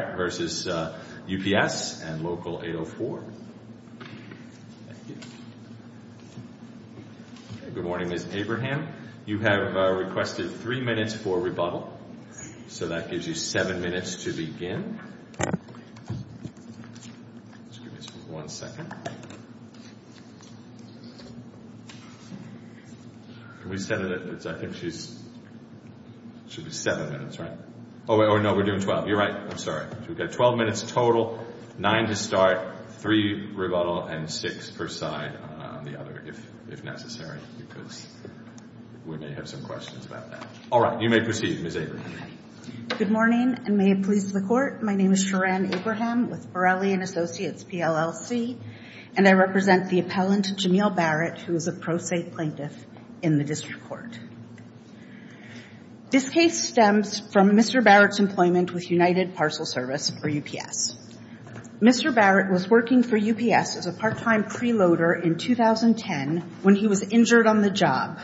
Good morning Ms. Abraham. You have requested three minutes for rebuttal. So that gives you seven minutes to begin. So we've got 12 minutes total, nine to start, three rebuttal, and six per side on the other, if necessary, because we may have some questions about that. All right. You may proceed, Ms. Abraham. Good morning, and may it please the Court. My name is Sharon Abraham with Borelli & Associates, PLLC, and I represent the appellant, Jameel Barrett, who is a pro se plaintiff in the district court. This case stems from Mr. Barrett's employment with United Parcel Service, or UPS. Mr. Barrett was working for UPS as a part-time preloader in 2010 when he was injured on the job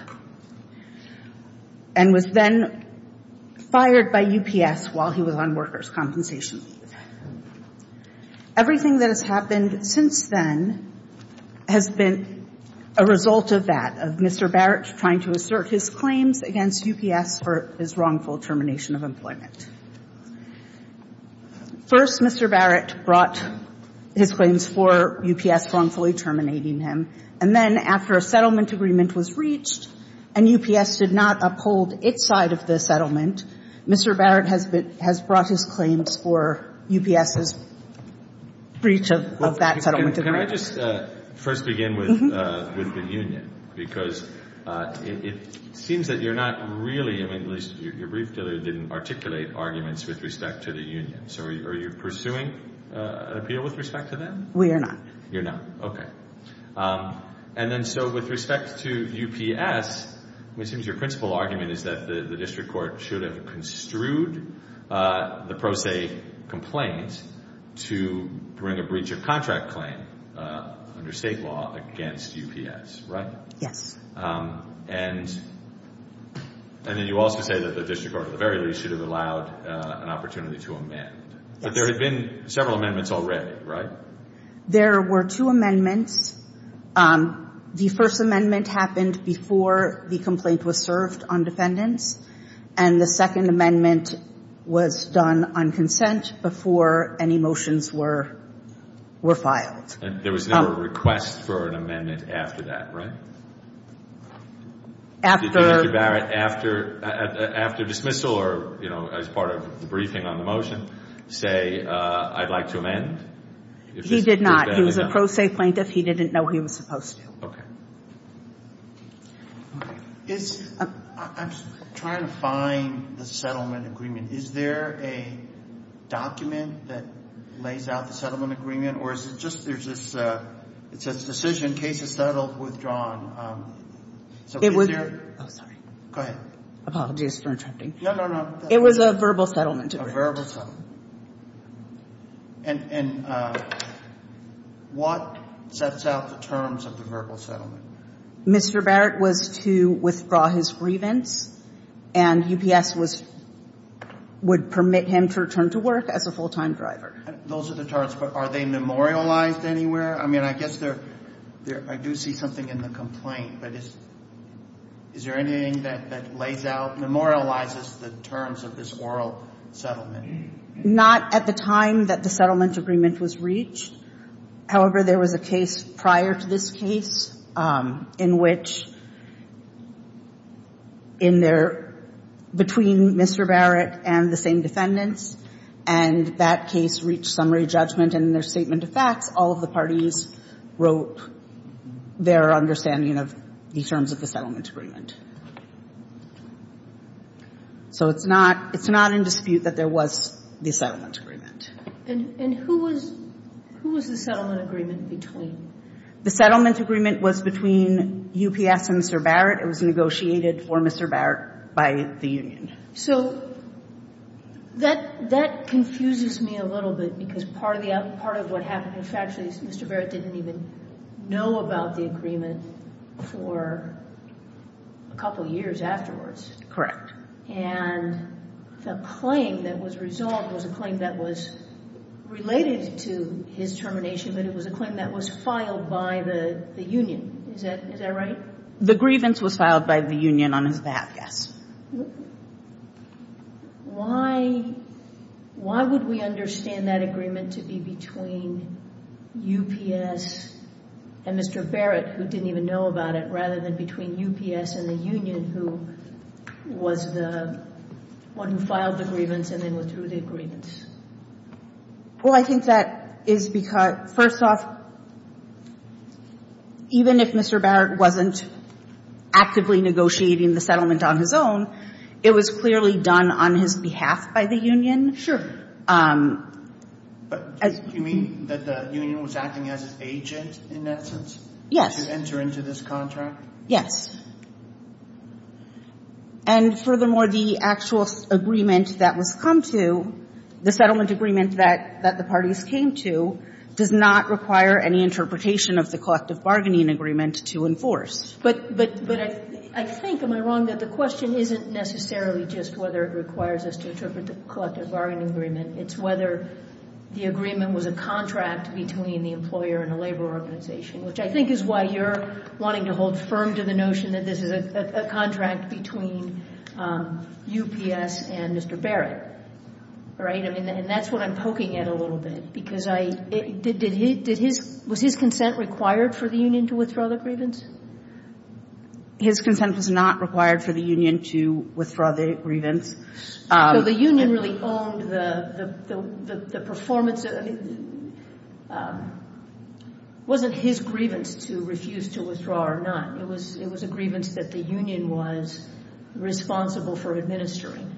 and was then fired by UPS while he was on workers' compensation. Everything that has happened since then has been a result of that, of Mr. Barrett trying to assert his claims against UPS for his wrongful termination of employment. First, Mr. Barrett brought his claims for UPS wrongfully terminating him, and then after a settlement agreement was reached and UPS did not uphold its side of the settlement, Mr. Barrett has brought his claims for UPS's breach of that settlement agreement. Can I just first begin with the union? Because it seems that you're not really, at least your brief didn't articulate arguments with respect to the union. So are you pursuing an appeal with respect to them? We are not. You're not? Okay. And then so with respect to UPS, it seems your principal argument is that the district court should have construed the pro se complaint to bring a breach of contract claim under state law against UPS, right? Yes. And then you also say that the district court, at the very least, should have allowed an opportunity to amend. Yes. But there have been several amendments already, right? There were two amendments. The first amendment happened before the complaint was served on defendants, and the second amendment was done on consent before any motions were filed. And there was no request for an amendment after that, right? Did Mr. Barrett, after dismissal or as part of the briefing on the motion, say, I'd like to amend? He did not. He was a pro se plaintiff. He didn't know he was supposed to. Okay. I'm trying to find the settlement agreement. Is there a document that lays out the settlement agreement, or is it just there's this decision, case is settled, withdrawn? Oh, sorry. Go ahead. Apologies for interrupting. No, no, no. It was a verbal settlement. A verbal settlement. And what sets out the terms of the verbal settlement? Mr. Barrett was to withdraw his grievance, and UPS would permit him to return to work as a full-time driver. Those are the terms, but are they memorialized anywhere? I mean, I guess I do see something in the complaint, but is there anything that lays out, memorializes the terms of this oral settlement? Not at the time that the settlement agreement was reached. However, there was a case prior to this case in which, in their, between Mr. Barrett and the same defendants, and that case reached summary judgment and their statement of facts, all of the parties wrote their understanding of the terms of the settlement agreement. So it's not, it's not in dispute that there was the settlement agreement. And who was, who was the settlement agreement between? The settlement agreement was between UPS and Mr. Barrett. It was negotiated for Mr. Barrett by the union. So that, that confuses me a little bit because part of the, part of what happened, in fact, Mr. Barrett didn't even know about the agreement for a couple years afterwards. Correct. And the claim that was resolved was a claim that was related to his termination, but it was a claim that was filed by the union. Is that, is that right? The grievance was filed by the union on his death, yes. Why, why would we understand that agreement to be between UPS and Mr. Barrett, who didn't even know about it, rather than between UPS and the union, who was the one who filed the grievance and then withdrew the agreement? Well, I think that is because, first off, even if Mr. Barrett wasn't actively negotiating the settlement on his own, it was clearly done on his behalf by the union. Sure. But do you mean that the union was acting as an agent in that sense? Yes. To enter into this contract? Yes. And furthermore, the actual agreement that was come to, the settlement agreement that the parties came to, does not require any interpretation of the collective bargaining agreement to enforce. But I think, am I wrong, that the question isn't necessarily just whether it requires us to interpret the collective bargaining agreement. It's whether the agreement was a contract between the employer and the labor organization, which I think is why you're wanting to hold firm to the notion that this is a contract between UPS and Mr. Barrett. All right? And that's what I'm poking at a little bit. Was his consent required for the union to withdraw the grievance? His consent was not required for the union to withdraw the grievance. So the union really owned the performance. I mean, it wasn't his grievance to refuse to withdraw or not. It was a grievance that the union was responsible for administering.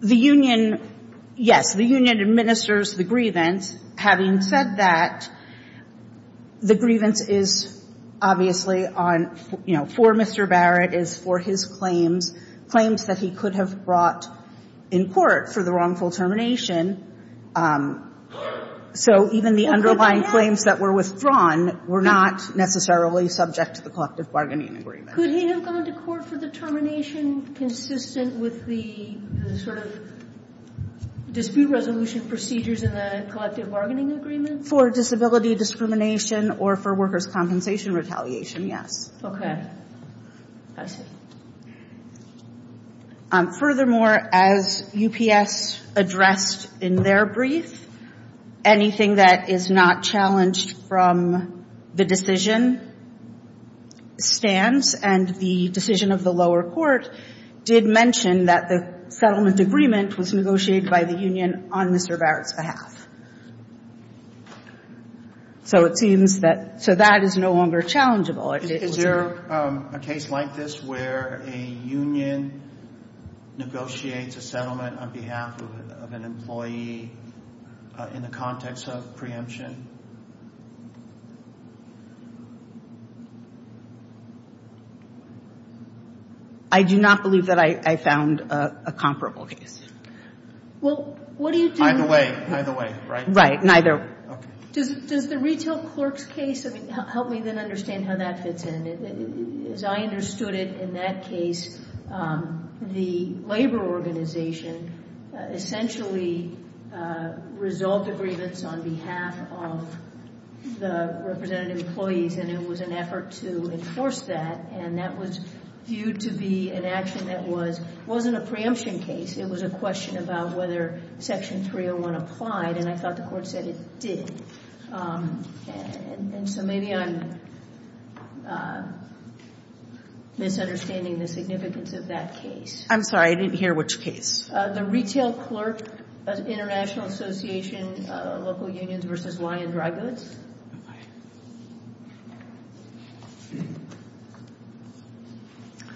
The union, yes, the union administers the grievance. Having said that, the grievance is obviously on, you know, for Mr. Barrett, is for his claims, claims that he could have brought in court for the wrongful termination. So even the underlying claims that were withdrawn were not necessarily subject to the collective bargaining agreement. Could he have gone to court for the termination consistent with the sort of dispute resolution procedures in the collective bargaining agreement? For disability discrimination or for workers' compensation retaliation, yes. Okay. I see. Furthermore, as UPS addressed in their brief, anything that is not challenged from the decision stands. And the decision of the lower court did mention that the settlement agreement was negotiated by the union on Mr. Barrett's behalf. So it seems that so that is no longer challengeable. Is there a case like this where a union negotiates a settlement on behalf of an employee in the context of preemption? I do not believe that I found a comparable case. Well, what do you do? Either way, either way, right? Right, neither. Okay. Does the retail clerk's case help me then understand how that fits in? As I understood it in that case, the labor organization essentially resolved the grievance on behalf of the representative employees, and it was an effort to enforce that. And that was viewed to be an action that wasn't a preemption case. It was a question about whether Section 301 applied. And I thought the court said it did. And so maybe I'm misunderstanding the significance of that case. I'm sorry. I didn't hear which case. The retail clerk, International Association of Local Unions v. Y and Dry Goods.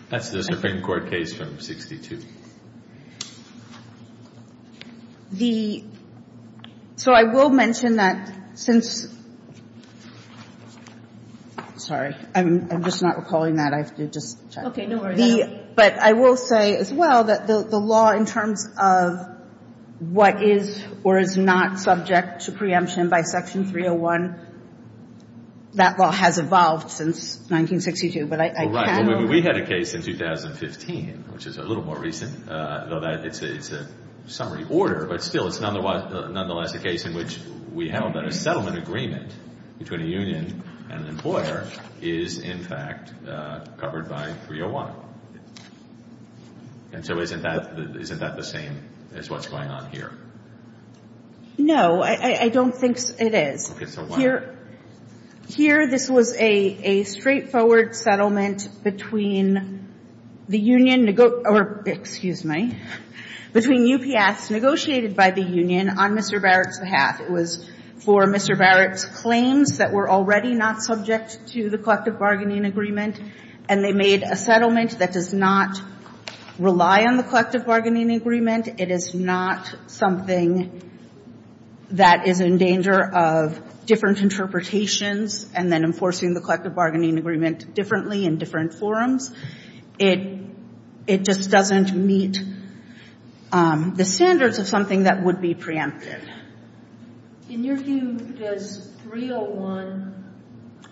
That's the Supreme Court case from 62. The so I will mention that since sorry, I'm just not recalling that. I have to just check. No worries. But I will say as well that the law in terms of what is or is not subject to preemption by Section 301, that law has evolved since 1962. But I can't remember. We had a case in 2015, which is a little more recent, though it's a summary order. But still, it's nonetheless a case in which we held that a settlement agreement between a union and an employer is in fact covered by 301. And so isn't that the same as what's going on here? No. I don't think it is. Okay. So why? Here this was a straightforward settlement between the union or excuse me, between UPS negotiated by the union on Mr. Barrett's behalf. It was for Mr. Barrett's claims that were already not subject to the collective bargaining agreement. And they made a settlement that does not rely on the collective bargaining agreement. It is not something that is in danger of different interpretations and then enforcing the collective bargaining agreement differently in different forums. It just doesn't meet the standards of something that would be preemptive. In your view, does 301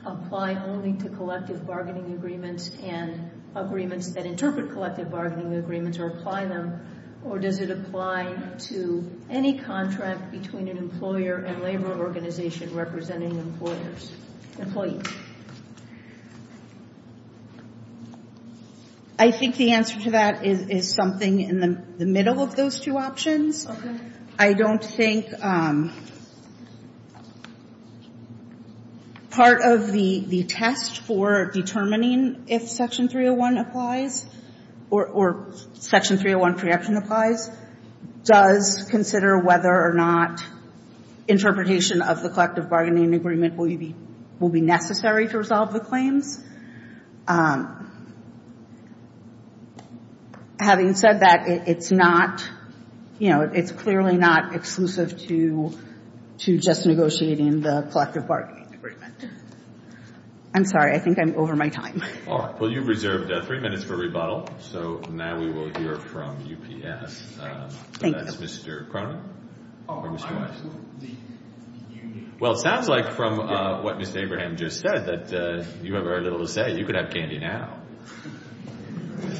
apply only to collective bargaining agreements and agreements that interpret collective bargaining agreements or apply them? Or does it apply to any contract between an employer and labor organization representing employers, employees? I think the answer to that is something in the middle of those two options. Okay. I don't think part of the test for determining if Section 301 applies or Section 301 preemption applies does consider whether or not interpretation of the collective bargaining agreement will be necessary to resolve the claims. Having said that, it's not, you know, it's clearly not exclusive to just negotiating the collective bargaining agreement. I'm sorry. I think I'm over my time. All right. Well, you've reserved three minutes for rebuttal, so now we will hear from UPS. That's Mr. Cronin or Mr. Weiss. Well, it sounds like from what Ms. Abraham just said that you have very little to say. You can have candy now.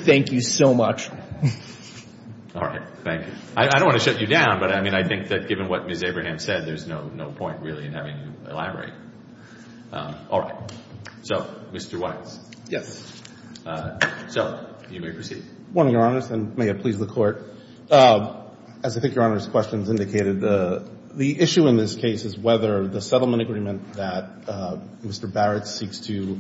Thank you so much. All right. Thank you. I don't want to shut you down, but, I mean, I think that given what Ms. Abraham said there's no point really in having you elaborate. All right. So, Mr. Weiss. Yes. So, you may proceed. One of Your Honors, and may it please the Court, as I think Your Honor's questions indicated, the issue in this case is whether the settlement agreement that Mr. Barrett seeks to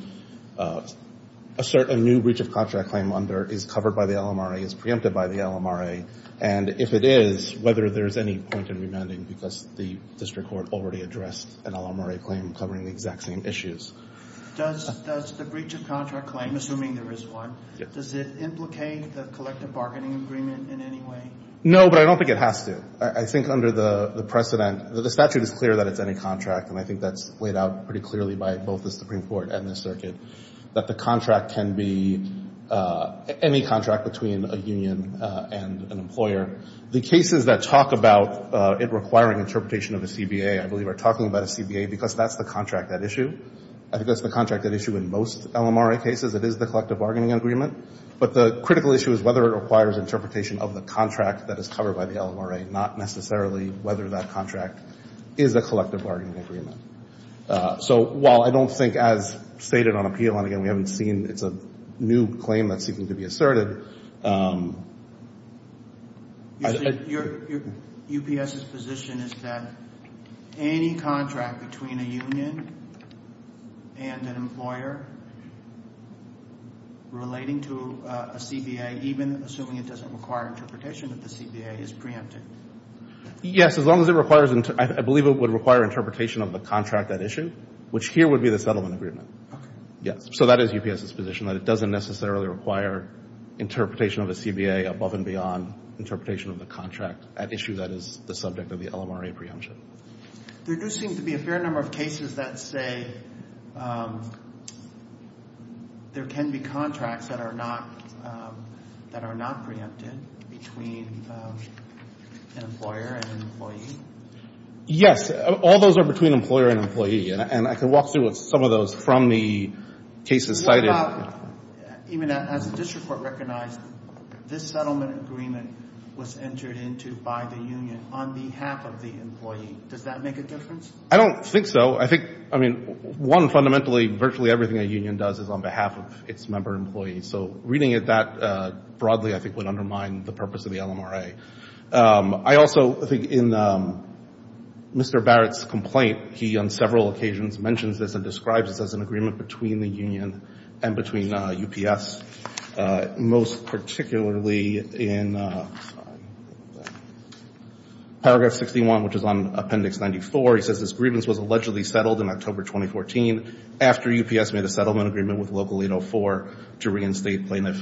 assert a new breach of contract claim under is covered by the LMRA, is preempted by the LMRA, and if it is, whether there's any point in remanding because the district court already addressed an LMRA claim covering the exact same issues. Does the breach of contract claim, assuming there is one, does it implicate the collective bargaining agreement in any way? No, but I don't think it has to. I think under the precedent, the statute is clear that it's any contract, and I think that's laid out pretty clearly by both the Supreme Court and the circuit, that the contract can be any contract between a union and an employer. The cases that talk about it requiring interpretation of the CBA, I believe are talking about a CBA because that's the contract at issue. I think that's the contract at issue in most LMRA cases. It is the collective bargaining agreement. But the critical issue is whether it requires interpretation of the contract that is covered by the LMRA, not necessarily whether that contract is a collective bargaining agreement. So, while I don't think as stated on appeal, and again, we haven't seen, it's a new claim that's seeking to be asserted. Your UPS's position is that any contract between a union and an employer relating to a CBA, even assuming it doesn't require interpretation of the CBA, is preempted? Yes, as long as it requires, I believe it would require interpretation of the contract at issue, which here would be the settlement agreement. Okay. Yes, so that is UPS's position, that it doesn't necessarily require interpretation of a CBA above and beyond interpretation of the contract at issue that is the subject of the LMRA preemption. There do seem to be a fair number of cases that say there can be contracts that are not preempted between an employer and an employee. Yes. All those are between employer and employee, and I can walk through some of those from the cases cited. What about, even as the district court recognized, this settlement agreement was entered into by the union on behalf of the employee. Does that make a difference? I don't think so. I think, I mean, one, fundamentally, virtually everything a union does is on behalf of its member employees. So reading it that broadly, I think, would undermine the purpose of the LMRA. I also think in Mr. Barrett's complaint, he on several occasions mentions this and describes this as an agreement between the union and between UPS, most particularly in Paragraph 61, which is on Appendix 94. He says this grievance was allegedly settled in October 2014 after UPS made a settlement agreement with Local 804 to reinstate plaintiff.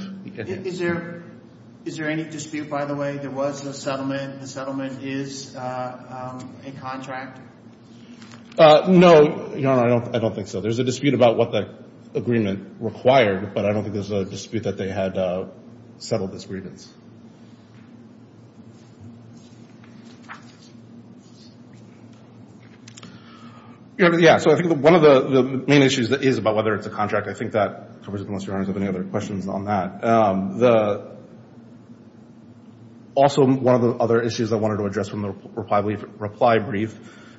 Is there any dispute, by the way, there was a settlement, the settlement is a contract? No, Your Honor, I don't think so. There's a dispute about what the agreement required, but I don't think there's a dispute that they had settled this grievance. Yeah, so I think one of the main issues is about whether it's a contract. I think that covers it, unless Your Honor has any other questions on that. Also, one of the other issues I wanted to address from the reply brief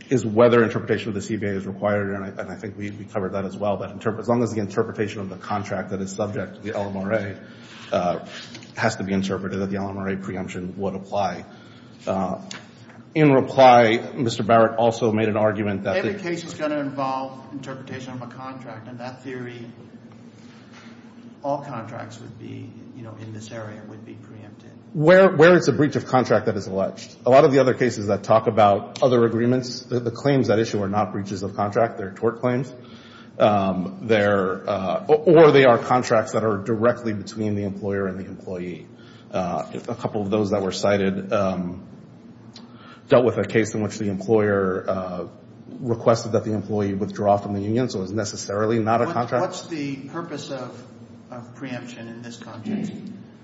is whether interpretation of the CBA is required, and I think we covered that as well. As long as the interpretation of the contract that is subject to the LMRA has to be interpreted, that the LMRA preemption would apply. In reply, Mr. Barrett also made an argument that the case is going to involve interpretation of a contract, and that theory, all contracts would be, you know, in this area would be preempted. Where it's a breach of contract that is alleged. A lot of the other cases that talk about other agreements, the claims that issue are not breaches of contract, they're tort claims. Or they are contracts that are directly between the employer and the employee. A couple of those that were cited dealt with a case in which the employer requested that the employee withdraw from the union, so it was necessarily not a contract. What's the purpose of preemption in this context?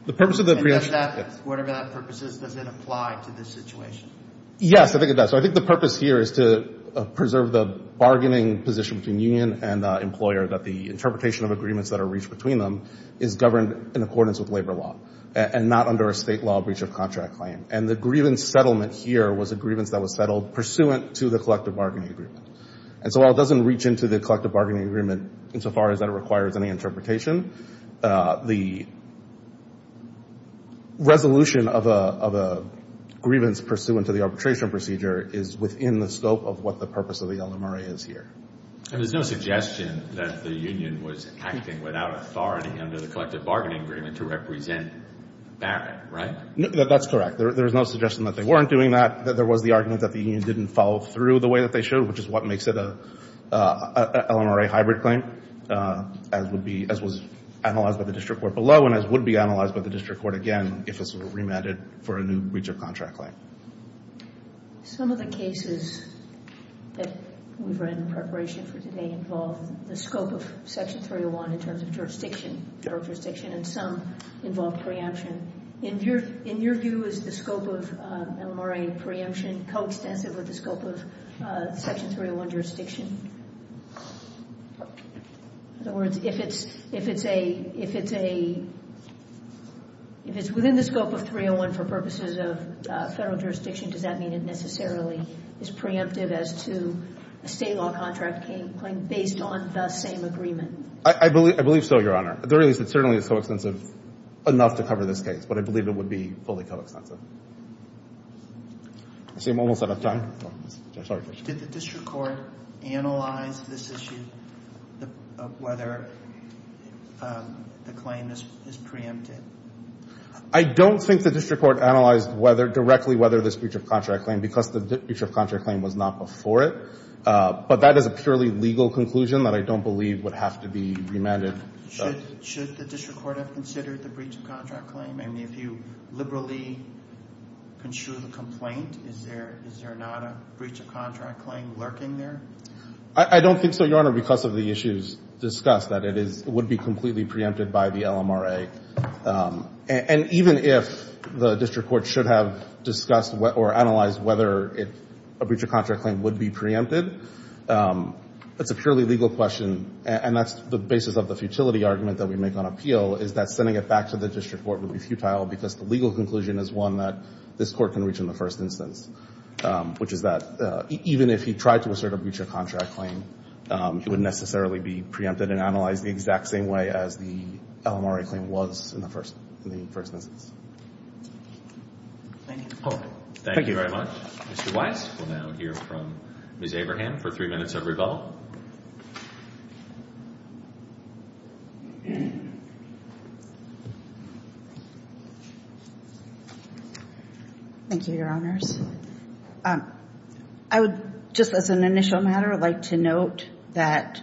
The purpose of the preemption. And does that, whatever that purpose is, does it apply to this situation? Yes, I think it does. So I think the purpose here is to preserve the bargaining position between union and employer, that the interpretation of agreements that are reached between them is governed in accordance with labor law, and not under a state law breach of contract claim. And the grievance settlement here was a grievance that was settled pursuant to the collective bargaining agreement. And so while it doesn't reach into the collective bargaining agreement insofar as that it requires any interpretation, the resolution of a grievance pursuant to the arbitration procedure is within the scope of what the purpose of the LMRA is here. And there's no suggestion that the union was acting without authority under the collective bargaining agreement to represent Barrett, right? That's correct. There's no suggestion that they weren't doing that. There was the argument that the union didn't follow through the way that they should, which is what makes it a LMRA hybrid claim, as would be, as was analyzed by the district court below, and as would be analyzed by the district court again if this were remanded for a new breach of contract claim. Some of the cases that we've read in preparation for today involve the scope of Section 301 in terms of jurisdiction, jurisdiction, and some involve preemption. In your view, is the scope of LMRA preemption coextensive with the scope of Section 301 jurisdiction? In other words, if it's a — if it's a — if it's within the scope of 301 for purposes of Federal jurisdiction, does that mean it necessarily is preemptive as to a State law contract claim based on the same agreement? I believe so, Your Honor. At the very least, it certainly is coextensive enough to cover this case, but I believe it would be fully coextensive. I see I'm almost out of time. Sorry. Did the district court analyze this issue of whether the claim is preemptive? I don't think the district court analyzed whether — directly whether this breach of contract claim, because the breach of contract claim was not before it. But that is a purely legal conclusion that I don't believe would have to be remanded. Should the district court have considered the breach of contract claim? I mean, if you liberally construed a complaint, is there not a breach of contract claim lurking there? I don't think so, Your Honor, because of the issues discussed, that it would be completely preempted by the LMRA. And even if the district court should have discussed or analyzed whether a breach of contract claim would be preempted, it's a purely legal question, and that's the basis of the futility argument that we make on appeal, is that sending it back to the district court would be futile because the legal conclusion is one that this court can reach in the first instance, which is that even if he tried to assert a breach of contract claim, it wouldn't necessarily be preempted and analyzed the exact same way as the LMRA claim was in the first instance. Thank you. Thank you very much. Mr. Weiss will now hear from Ms. Abraham for three minutes of rebuttal. Thank you, Your Honors. I would, just as an initial matter, like to note that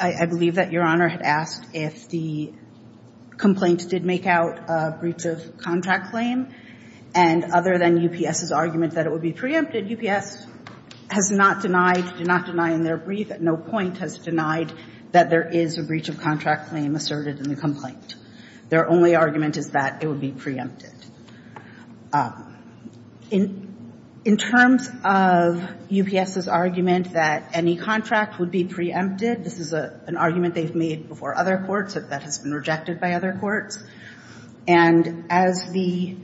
I believe that Your Honor had asked if the complaint did make out a breach of contract claim, and other than UPS's argument that it would be preempted, UPS has not denied, did not deny in their brief at no point, has denied that there is a breach of contract claim asserted in the complaint. Their only argument is that it would be preempted. In terms of UPS's argument that any contract would be preempted, this is an argument they've made before other courts that that has been rejected by other courts. And as the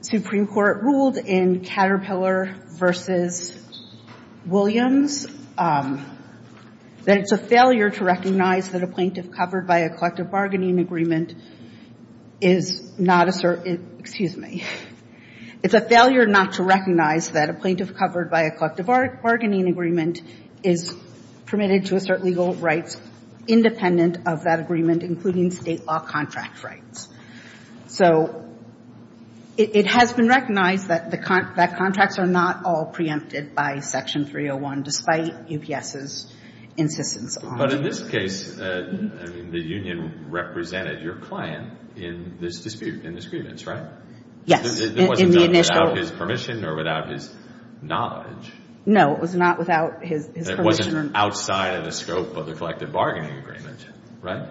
Supreme Court ruled in Caterpillar v. Williams, that it's a failure to recognize that a plaintiff covered by a collective bargaining agreement is not asserted, excuse me, it's a failure not to recognize that a plaintiff covered by a collective bargaining agreement is permitted to assert legal rights independent of that agreement, including state law contract rights. So it has been recognized that contracts are not all preempted by Section 301, despite UPS's insistence on it. But in this case, the union represented your client in this dispute, in this grievance, right? Yes. It wasn't done without his permission or without his knowledge. No, it was not without his permission. It wasn't outside of the scope of the collective bargaining agreement, right?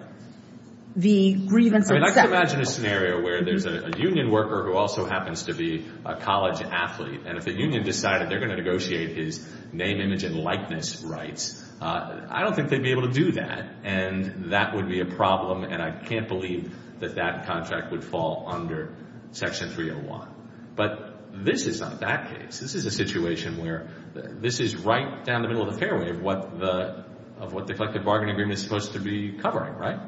The grievance itself. I mean, I can imagine a scenario where there's a union worker who also happens to be a college athlete, and if the union decided they're going to negotiate his name, image, and likeness rights, I don't think they'd be able to do that, and that would be a problem, and I can't believe that that contract would fall under Section 301. But this is not that case. This is a situation where this is right down the middle of the fairway of what the collective bargaining agreement is supposed to be covering, right?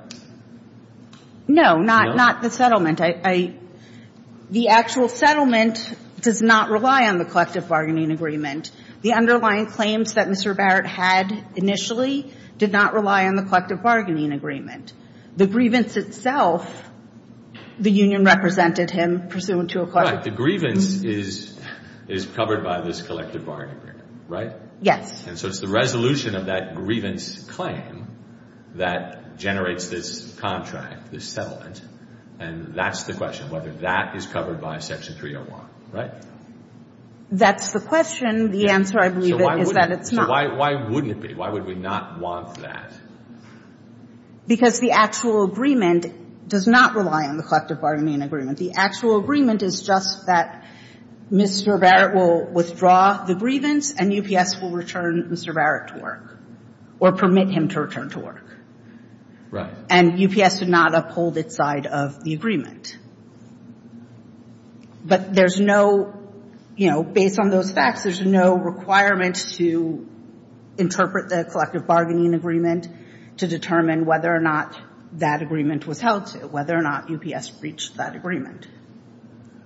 No, not the settlement. The actual settlement does not rely on the collective bargaining agreement. The underlying claims that Mr. Barrett had initially did not rely on the collective bargaining agreement. The grievance itself, the union represented him pursuant to a collective bargaining agreement. Right. The grievance is covered by this collective bargaining agreement, right? Yes. And so it's the resolution of that grievance claim that generates this contract, this settlement, and that's the question, whether that is covered by Section 301, right? That's the question. The answer, I believe, is that it's not. So why wouldn't it be? Why would we not want that? Because the actual agreement does not rely on the collective bargaining agreement. The actual agreement is just that Mr. Barrett will withdraw the grievance, and UPS will return Mr. Barrett to work or permit him to return to work. And UPS would not uphold its side of the agreement. But there's no, you know, based on those facts, there's no requirement to interpret the collective bargaining agreement to determine whether or not that agreement was held, whether or not UPS breached that agreement.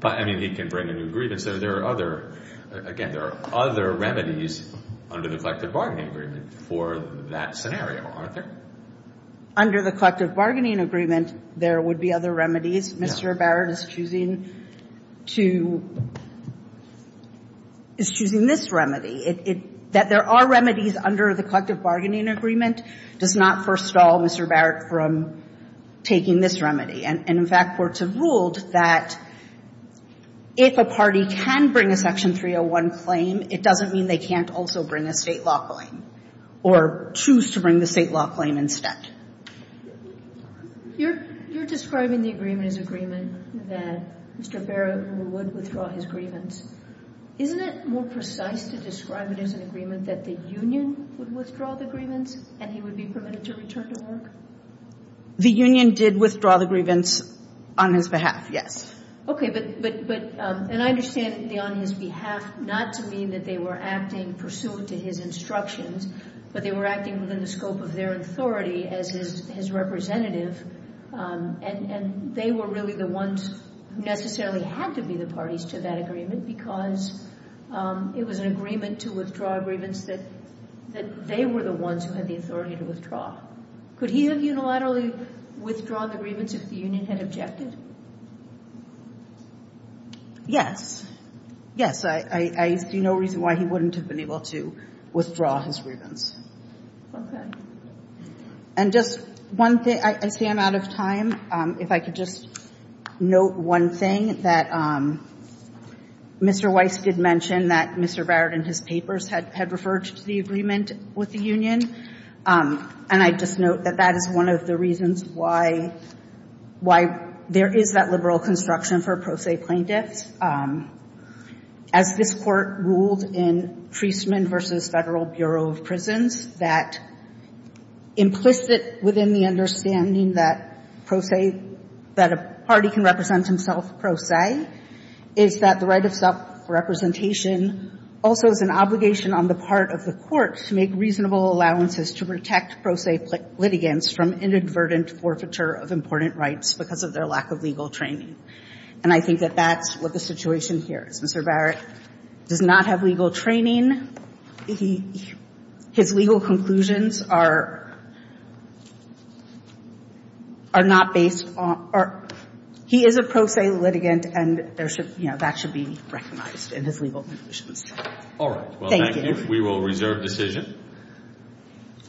But, I mean, he can bring a new grievance. There are other, again, there are other remedies under the collective bargaining agreement for that scenario, aren't there? Under the collective bargaining agreement, there would be other remedies. Mr. Barrett is choosing to, is choosing this remedy. That there are remedies under the collective bargaining agreement does not first stop at all Mr. Barrett from taking this remedy. And, in fact, courts have ruled that if a party can bring a Section 301 claim, it doesn't mean they can't also bring a state law claim or choose to bring the state law claim instead. You're describing the agreement as agreement that Mr. Barrett would withdraw his grievance. Isn't it more precise to describe it as an agreement that the union would withdraw the grievance and he would be permitted to return to work? The union did withdraw the grievance on his behalf, yes. Okay. But, and I understand the on his behalf not to mean that they were acting pursuant to his instructions, but they were acting within the scope of their authority as his representative. And they were really the ones who necessarily had to be the parties to that agreement because it was an agreement to withdraw a grievance that they were the ones who had the authority to withdraw. Could he have unilaterally withdrawn the grievance if the union had objected? Yes. Yes, I see no reason why he wouldn't have been able to withdraw his grievance. Okay. And just one thing, I see I'm out of time. If I could just note one thing, that Mr. Weiss did mention that Mr. Barrett in his papers had referred to the agreement with the union. And I just note that that is one of the reasons why there is that liberal construction for pro se plaintiffs. As this Court ruled in Treason versus Federal Bureau of Prisons, that implicit within the understanding that pro se, that a party can represent himself pro se, is that the right of self-representation also is an obligation on the part of the court to make reasonable allowances to protect pro se litigants from inadvertent forfeiture of important rights because of their lack of legal training. And I think that that's what the situation here is. Mr. Barrett does not have legal training. His legal conclusions are not based on or he is a pro se litigant and that should be recognized in his legal conclusions. All right. Thank you. We will reserve decision.